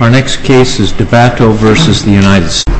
Our next case is DEBATTO v. United States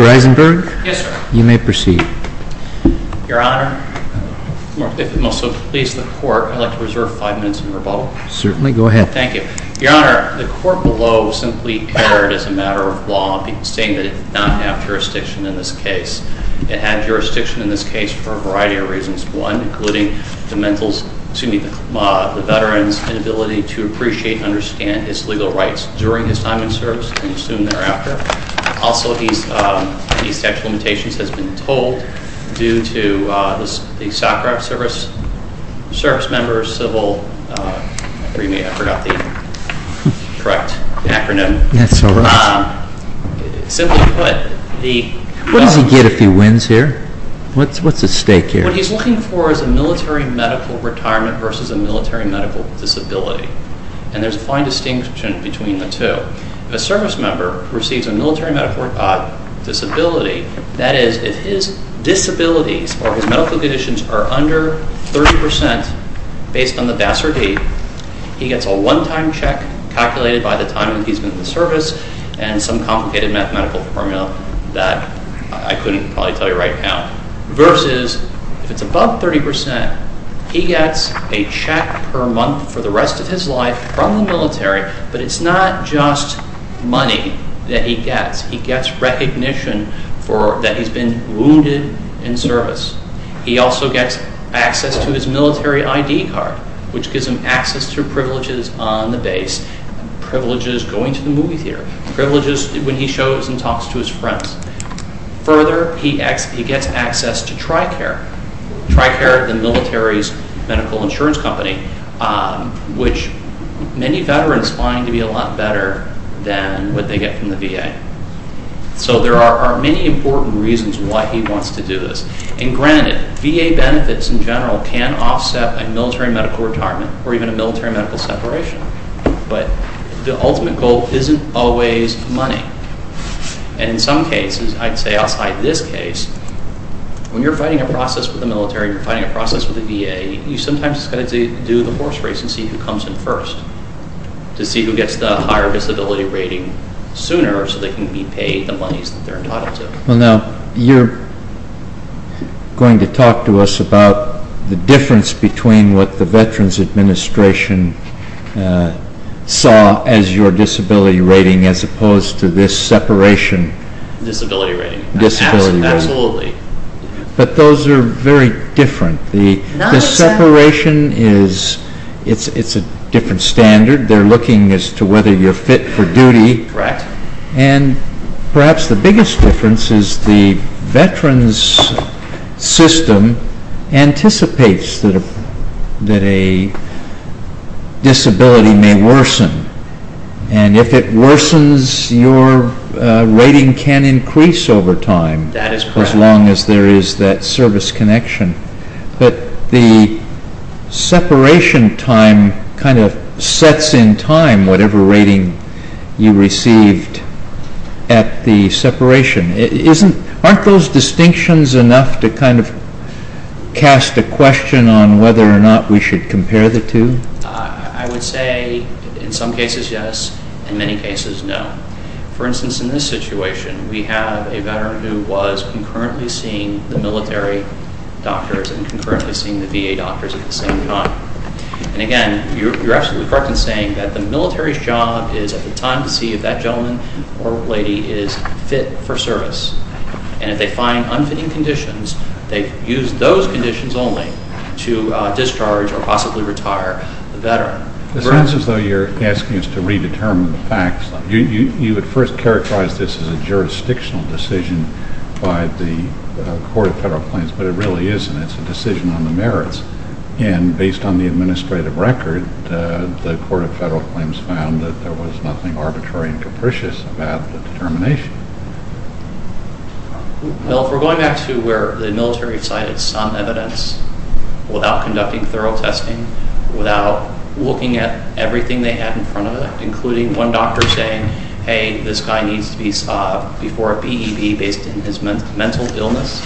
Mr. Eisenberg, you may proceed. Your Honor, if it will please the Court, I would like to reserve five minutes of rebuttal. Certainly, go ahead. Thank you. Your Honor, the Court below simply erred as a matter of law, saying that it did not have jurisdiction in this case. It had jurisdiction in this case for a variety of reasons. One, including the veteran's inability to appreciate and understand his legal rights during his time in service, and assumed thereafter. Also, he's sexual limitations has been told due to the SACRA service members, civil, I mean, I forgot the correct acronym. Yes, all right. Simply put, the... What does he get if he wins here? What's at stake here? What he's looking for is a military medical retirement versus a military medical disability. And there's a fine distinction between the two. If a service member receives a military medical disability, that is, if his disabilities or his medical conditions are under 30% based on the Vassar date, he gets a one-time check calculated by the time that he's been in the service and some complicated mathematical formula that I couldn't probably tell you right now, versus if it's above 30%, he gets a check per month for the rest of his life from the military, but it's not just money that he gets. He gets recognition that he's been wounded in service. He also gets access to his military ID card, which gives him access to privileges on the base, privileges going to the movie theater, privileges when he shows and talks to his friends. Further, he gets access to TRICARE, TRICARE, the military's medical insurance company, which many veterans find to be a lot better than what they get from the VA. So there are many important reasons why he wants to do this. And granted, VA benefits in general can offset a military medical retirement or even a military medical separation, but the ultimate goal isn't always money. And in some cases, I'd say outside this case, when you're fighting a process with the military, when you're fighting a process with the VA, you sometimes have to do the horse race and see who comes in first, to see who gets the higher disability rating sooner, so they can be paid the monies that they're entitled to. Well now, you're going to talk to us about the difference between what the Veterans Administration saw as your disability rating, as opposed to this separation. Disability rating. Disability rating. Absolutely. But those are very different. The separation is, it's a different standard. They're looking as to whether you're fit for duty, and perhaps the biggest difference is the veterans system anticipates that a disability may worsen, and if it worsens, your rating can increase over time, as long as there is that service connection. But the separation time kind of sets in time whatever rating you received at the separation. Aren't those distinctions enough to kind of cast a question on whether or not we should compare the two? I would say in some cases yes, in many cases no. For instance, in this situation, we have a veteran who was concurrently seeing the military doctors and concurrently seeing the VA doctors at the same time. And again, you're absolutely correct in saying that the military's job is at the time to see if that gentleman or lady is fit for service, and if they find unfitting conditions, they use those conditions only to discharge or possibly retire the veteran. It sounds as though you're asking us to redetermine the facts. You would first characterize this as a jurisdictional decision by the Court of Federal Claims, but it really isn't. It's a decision on the merits. And based on the administrative record, the Court of Federal Claims found that there was nothing arbitrary and capricious about the determination. Now, if we're going back to where the military cited some evidence without conducting thorough testing, without looking at everything they had in front of them, including one doctor saying, hey, this guy needs to be before a BEB based on his mental illness,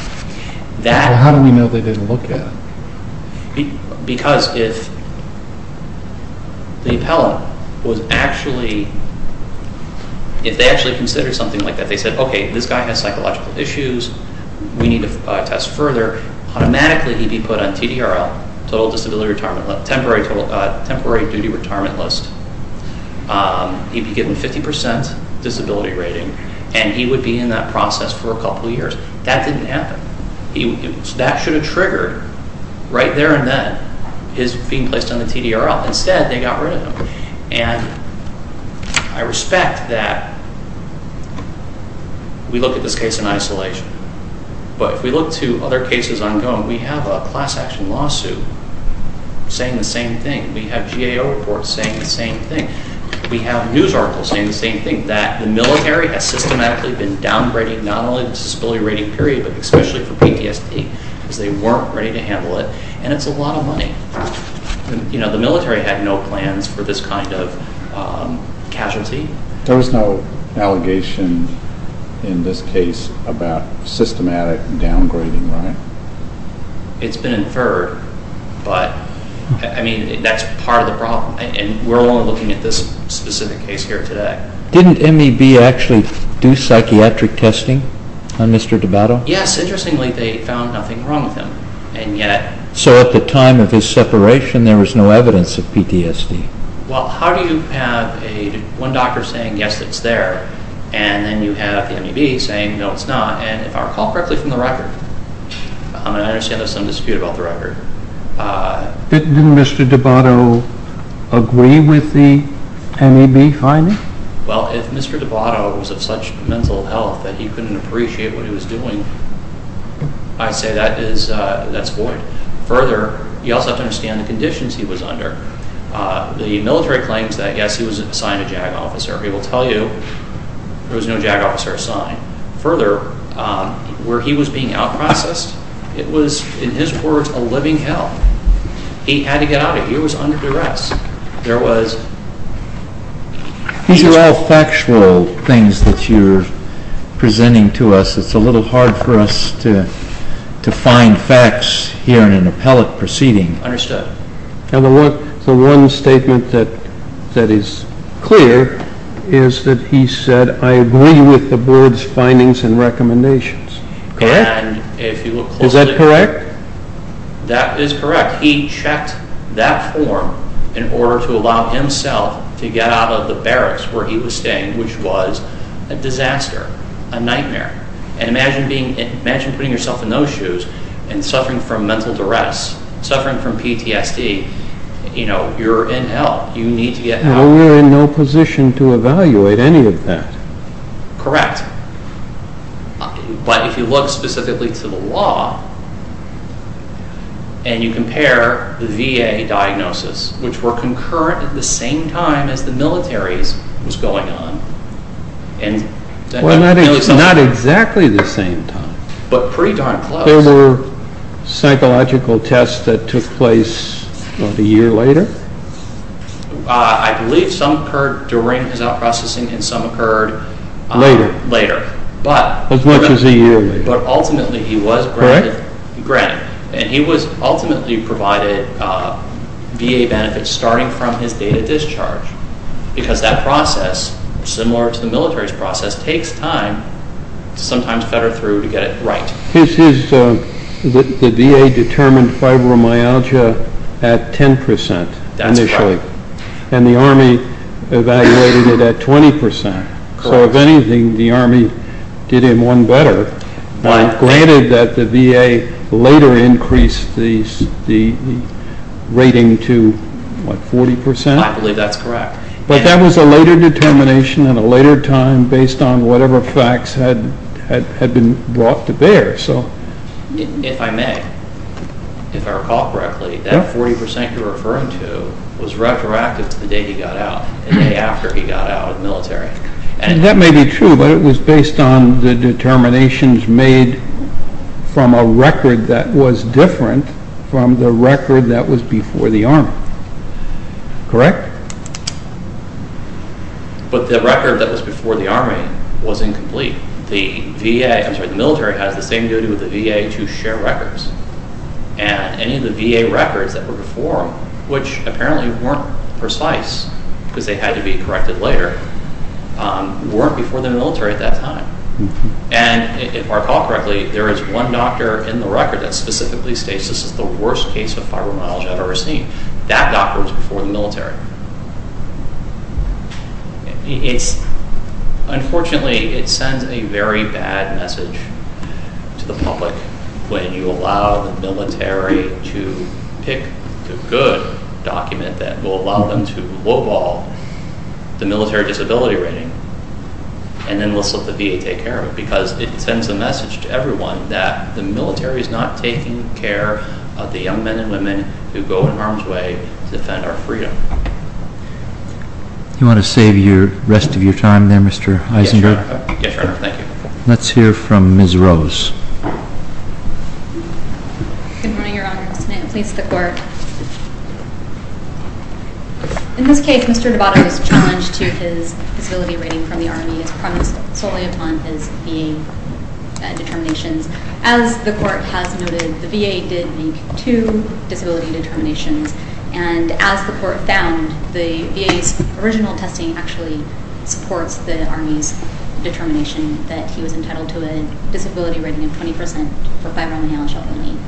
that... How do we know they didn't look at it? Because if the appellant was actually, if they actually considered something like that, they said, okay, this guy has psychological issues, we need to test further, automatically he'd be put on TDRL, Total Disability Retirement List, Temporary Duty Retirement List, he'd be given 50% disability rating, and he would be in that process for a couple of years. That didn't happen. That should have triggered right there and then his being placed on the TDRL. Instead, they got rid of him. And I respect that we look at this case in isolation. But if we look to other cases ongoing, we have a class action lawsuit saying the same thing. We have GAO reports saying the same thing. We have news articles saying the same thing, that the military has systematically been downgrading not only the disability rating period, but especially for PTSD, because they weren't ready to handle it. And it's a lot of money. You know, the military had no plans for this kind of casualty. There was no allegation in this case about systematic downgrading, right? It's been inferred. But, I mean, that's part of the problem. And we're only looking at this specific case here today. Didn't MEB actually do psychiatric testing on Mr. DiBato? Yes. Interestingly, they found nothing wrong with him. So at the time of his separation, there was no evidence of PTSD. Well, how do you have one doctor saying, yes, it's there, and then you have the MEB saying, no, it's not, and if I recall correctly from the record? I understand there's some dispute about the record. Didn't Mr. DiBato agree with the MEB finding? Well, if Mr. DiBato was of such mental health that he couldn't appreciate what he was doing, I'd say that's void. Further, you also have to understand the conditions he was under. The military claims that, yes, he was assigned a JAG officer. We will tell you there was no JAG officer assigned. Further, where he was being out-processed, it was, in his words, a living hell. He had to get out of it. He was under duress. These are all factual things that you're presenting to us. It's a little hard for us to find facts here in an appellate proceeding. Understood. The one statement that is clear is that he said, I agree with the Board's findings and recommendations. Correct? Is that correct? That is correct. He checked that form in order to allow himself to get out of the barracks where he was staying, which was a disaster, a nightmare. Imagine putting yourself in those shoes and suffering from mental duress, suffering from PTSD. You're in hell. You need to get out. We're in no position to evaluate any of that. Correct. But if you look specifically to the law, and you compare the VA diagnosis, which were concurrent at the same time as the military's was going on. Well, not exactly the same time. But pretty darn close. There were psychological tests that took place about a year later? I believe some occurred during his out-processing and some occurred later. As much as a year later. But ultimately, he was granted. And he was ultimately provided VA benefits starting from his date of discharge because that process, similar to the military's process, takes time to sometimes cut her through to get it right. The VA determined fibromyalgia at 10% initially. That's correct. And the Army evaluated it at 20%. So if anything, the Army did him one better. Granted that the VA later increased the rating to, what, 40%? I believe that's correct. But that was a later determination at a later time based on whatever facts had been brought to bear. If I may, if I recall correctly, that 40% you're referring to was retroactive to the day he got out, the day after he got out of the military. And that may be true, but it was based on the determinations made from a record that was different from the record that was before the Army. Correct? But the record that was before the Army was incomplete. The military has the same duty with the VA to share records. And any of the VA records that were before him, which apparently weren't precise because they had to be corrected later, weren't before the military at that time. And if I recall correctly, there is one doctor in the record that specifically states this is the worst case of fibromyalgia I've ever seen. That doctor was before the military. Unfortunately, it sends a very bad message to the public when you allow the military to pick the good document that will allow them to lowball the military disability rating and then let the VA take care of it because it sends a message to everyone that the military is not taking care of the young men and women who go in harm's way to defend our freedom. Do you want to save the rest of your time there, Mr. Eisenberg? Yes, Your Honor. Thank you. Let's hear from Ms. Rose. Good morning, Your Honor. May it please the Court. In this case, Mr. Dabato's challenge to his disability rating from the Army is promised solely upon his VA determinations. As the Court has noted, the VA did make two disability determinations. And as the Court found, the VA's original testing actually supports the Army's determination that he was entitled to a disability rating of 20% for fibromyalgia only.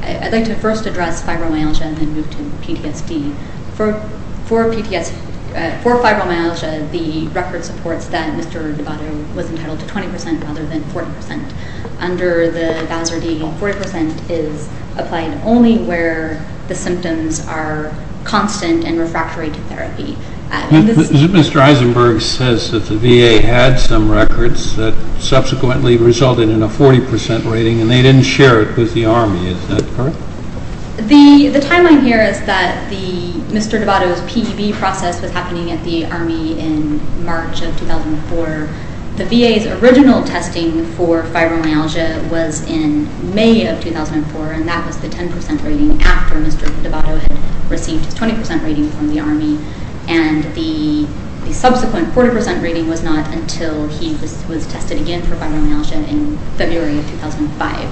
I'd like to first address fibromyalgia and then move to PTSD. For fibromyalgia, the record supports that Mr. Dabato was entitled to 20% rather than 40%. Under the Bowser D, 40% is applied only where the symptoms are constant and refractory to therapy. Mr. Eisenberg says that the VA had some records that subsequently resulted in a 40% rating, and they didn't share it with the Army. Is that correct? The timeline here is that Mr. Dabato's PEB process was happening at the Army in March of 2004. The VA's original testing for fibromyalgia was in May of 2004, and that was the 10% rating after Mr. Dabato had received his 20% rating from the Army. The subsequent 40% rating was not until he was tested again for fibromyalgia in February of 2005.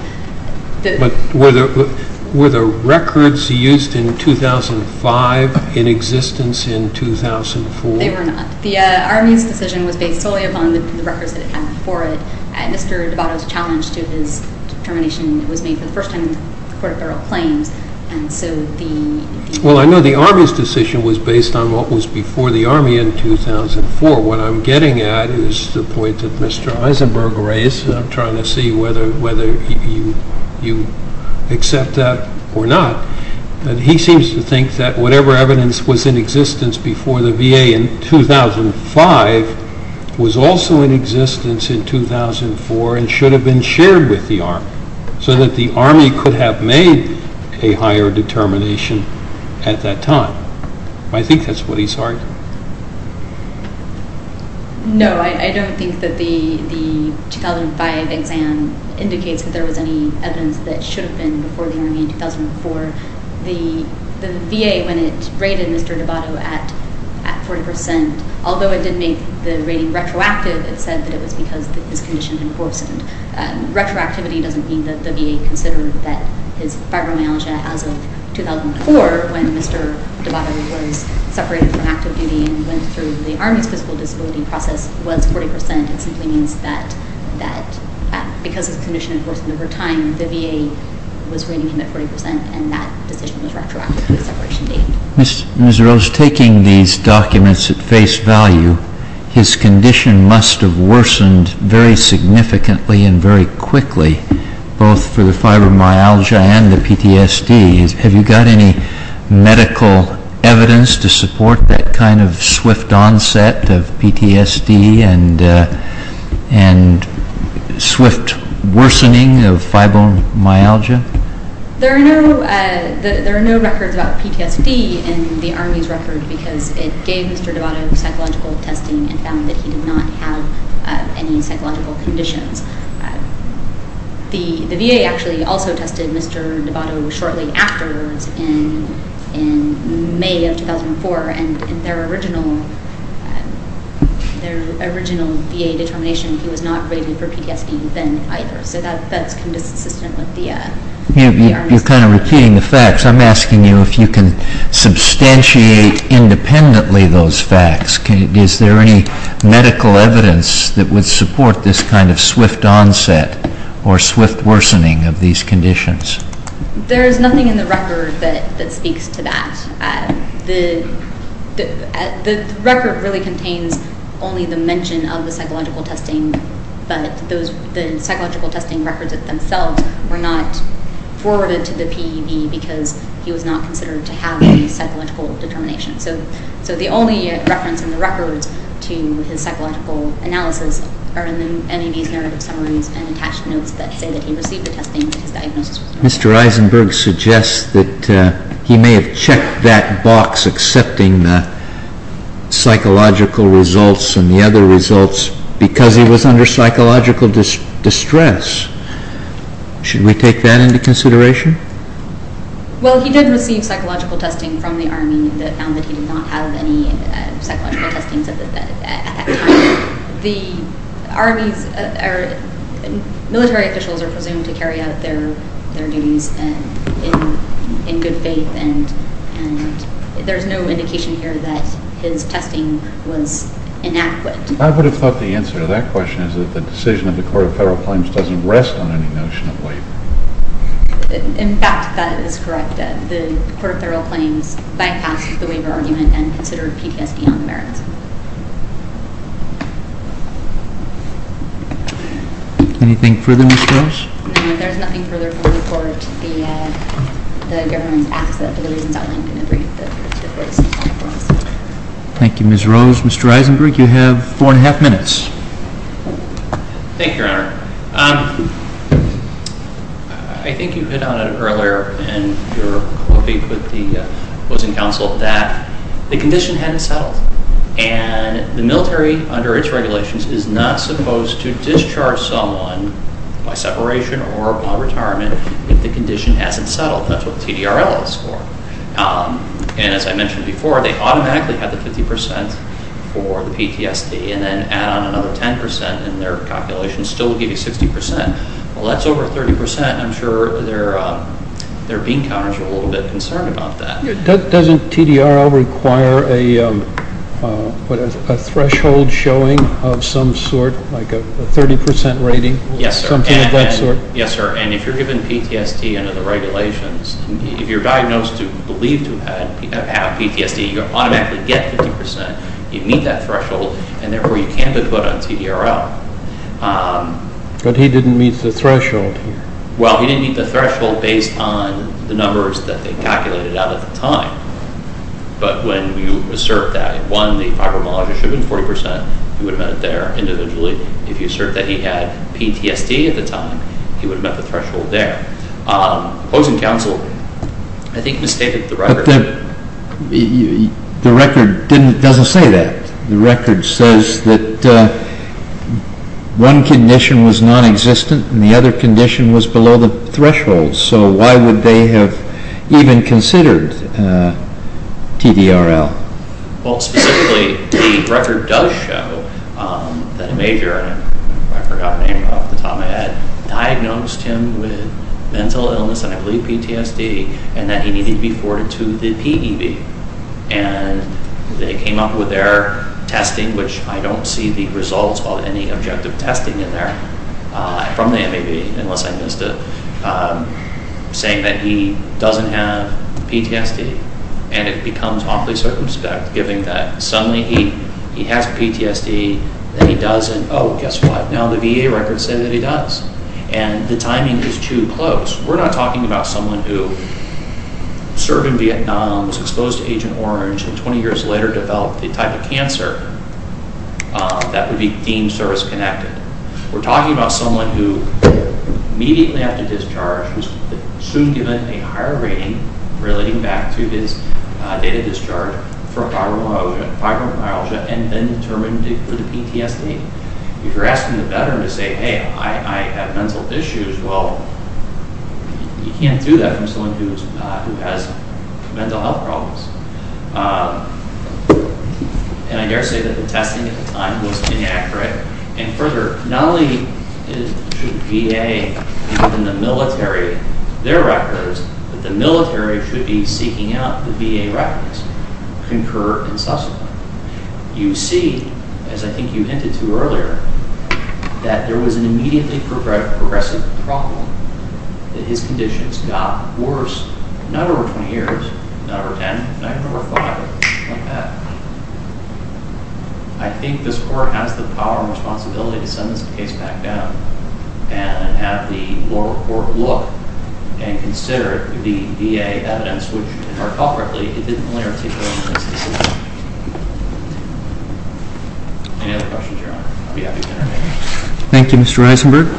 Were the records used in 2005 in existence in 2004? They were not. The Army's decision was based solely upon the records that it had before it. Mr. Dabato's challenge to his determination was made for the first time in the Court of Federal Claims. Well, I know the Army's decision was based on what was before the Army in 2004. What I'm getting at is the point that Mr. Eisenberg raised, and I'm trying to see whether you accept that or not. He seems to think that whatever evidence was in existence before the VA in 2005 was also in existence in 2004 and should have been shared with the Army so that the Army could have made a higher determination at that time. I think that's what he's arguing. No, I don't think that the 2005 exam indicates that there was any evidence that should have been before the Army in 2004. The VA, when it rated Mr. Dabato at 40%, although it did make the rating retroactive, it said that it was because his condition had worsened. Retroactivity doesn't mean that the VA considered that his fibromyalgia as of 2004 when Mr. Dabato was separated from active duty and went through the Army's physical disability process was 40%. It simply means that because his condition had worsened over time, the VA was rating him at 40%, and that decision was retroactive to the separation date. Ms. Rose, taking these documents at face value, his condition must have worsened very significantly and very quickly, both for the fibromyalgia and the PTSD. Have you got any medical evidence to support that kind of swift onset of PTSD and swift worsening of fibromyalgia? There are no records about PTSD in the Army's record because it gave Mr. Dabato psychological testing and found that he did not have any psychological conditions. The VA actually also tested Mr. Dabato shortly afterwards in May of 2004, and in their original VA determination, he was not rated for PTSD then either. So that's consistent with the Army's determination. You're kind of repeating the facts. I'm asking you if you can substantiate independently those facts. Is there any medical evidence that would support this kind of swift onset or swift worsening of these conditions? There is nothing in the record that speaks to that. The record really contains only the mention of the psychological testing, but the psychological testing records themselves were not forwarded to the PEV because he was not considered to have any psychological determination. So the only reference in the records to his psychological analysis are in the NEB's narrative summaries and attached notes that say that he received the testing and his diagnosis was normal. Mr. Eisenberg suggests that he may have checked that box accepting the psychological results and the other results because he was under psychological distress. Should we take that into consideration? Well, he did receive psychological testing from the Army that found that he did not have any psychological testing at the time. The Army's military officials are presumed to carry out their duties in good faith, and there's no indication here that his testing was inadequate. I would have thought the answer to that question is that the decision of the Court of Federal Claims doesn't rest on any notion of waiver. In fact, that is correct. The Court of Federal Claims bypassed the waiver argument and considered PTSD on the merits. Anything further, Ms. Rose? No, there's nothing further for the Court. The government asks that the reasons outlined in the brief that were submitted to the Court of Federal Claims. Thank you, Ms. Rose. Mr. Eisenberg, you have four and a half minutes. Thank you, Your Honor. I think you hit on it earlier in your brief with the opposing counsel that the condition hadn't settled, and the military under its regulations is not supposed to discharge someone by separation or by retirement if the condition hasn't settled. That's what TDRL is for. And as I mentioned before, they automatically have the 50% for the PTSD and then add on another 10% and their calculations still give you 60%. Well, that's over 30%. I'm sure their bean counters are a little bit concerned about that. Doesn't TDRL require a threshold showing of some sort, like a 30% rating? Yes, sir. Something of that sort? Yes, sir, and if you're given PTSD under the regulations, if you're diagnosed to believe to have PTSD, you automatically get 50%. You meet that threshold, and therefore you can't have it put on TDRL. But he didn't meet the threshold here. Well, he didn't meet the threshold based on the numbers that they calculated out at the time. But when you assert that, one, the fibromyalgia should have been 40%, he would have met it there individually. If you assert that he had PTSD at the time, he would have met the threshold there. Opposing counsel, I think, misstated the record. The record doesn't say that. The record says that one condition was nonexistent and the other condition was below the threshold. So why would they have even considered TDRL? Well, specifically, the record does show that a major, I forgot the name off the top of my head, diagnosed him with mental illness, and I believe PTSD, and that he needed to be forwarded to the PEB. And they came up with their testing, which I don't see the results of any objective testing in there from the MEB, unless I missed it, saying that he doesn't have PTSD. And it becomes awfully circumspect, given that suddenly he has PTSD, then he doesn't. Oh, guess what? Now the VA records say that he does. And the timing is too close. We're not talking about someone who served in Vietnam, was exposed to Agent Orange, and 20 years later developed the type of cancer that would be deemed service-connected. We're talking about someone who immediately after discharge was soon given a higher rating relating back to his date of discharge for fibromyalgia and then determined for the PTSD. If you're asking a veteran to say, hey, I have mental issues, well, you can't do that from someone who has mental health problems. And I dare say that the testing at the time was inaccurate. And further, not only should the VA and the military, their records, that the military should be seeking out the VA records, concur in subsequent. You see, as I think you hinted to earlier, that there was an immediately progressive problem, that his conditions got worse, not over 20 years, not over 10, not even over 5, like that. I think this Court has the power and responsibility to send this case back down and have the lower court look and consider it with the VA evidence, which, heart-heartedly, it didn't really articulate in this decision. Any other questions, Your Honor? I'll be happy to intervene. Thank you, Mr. Eisenberg.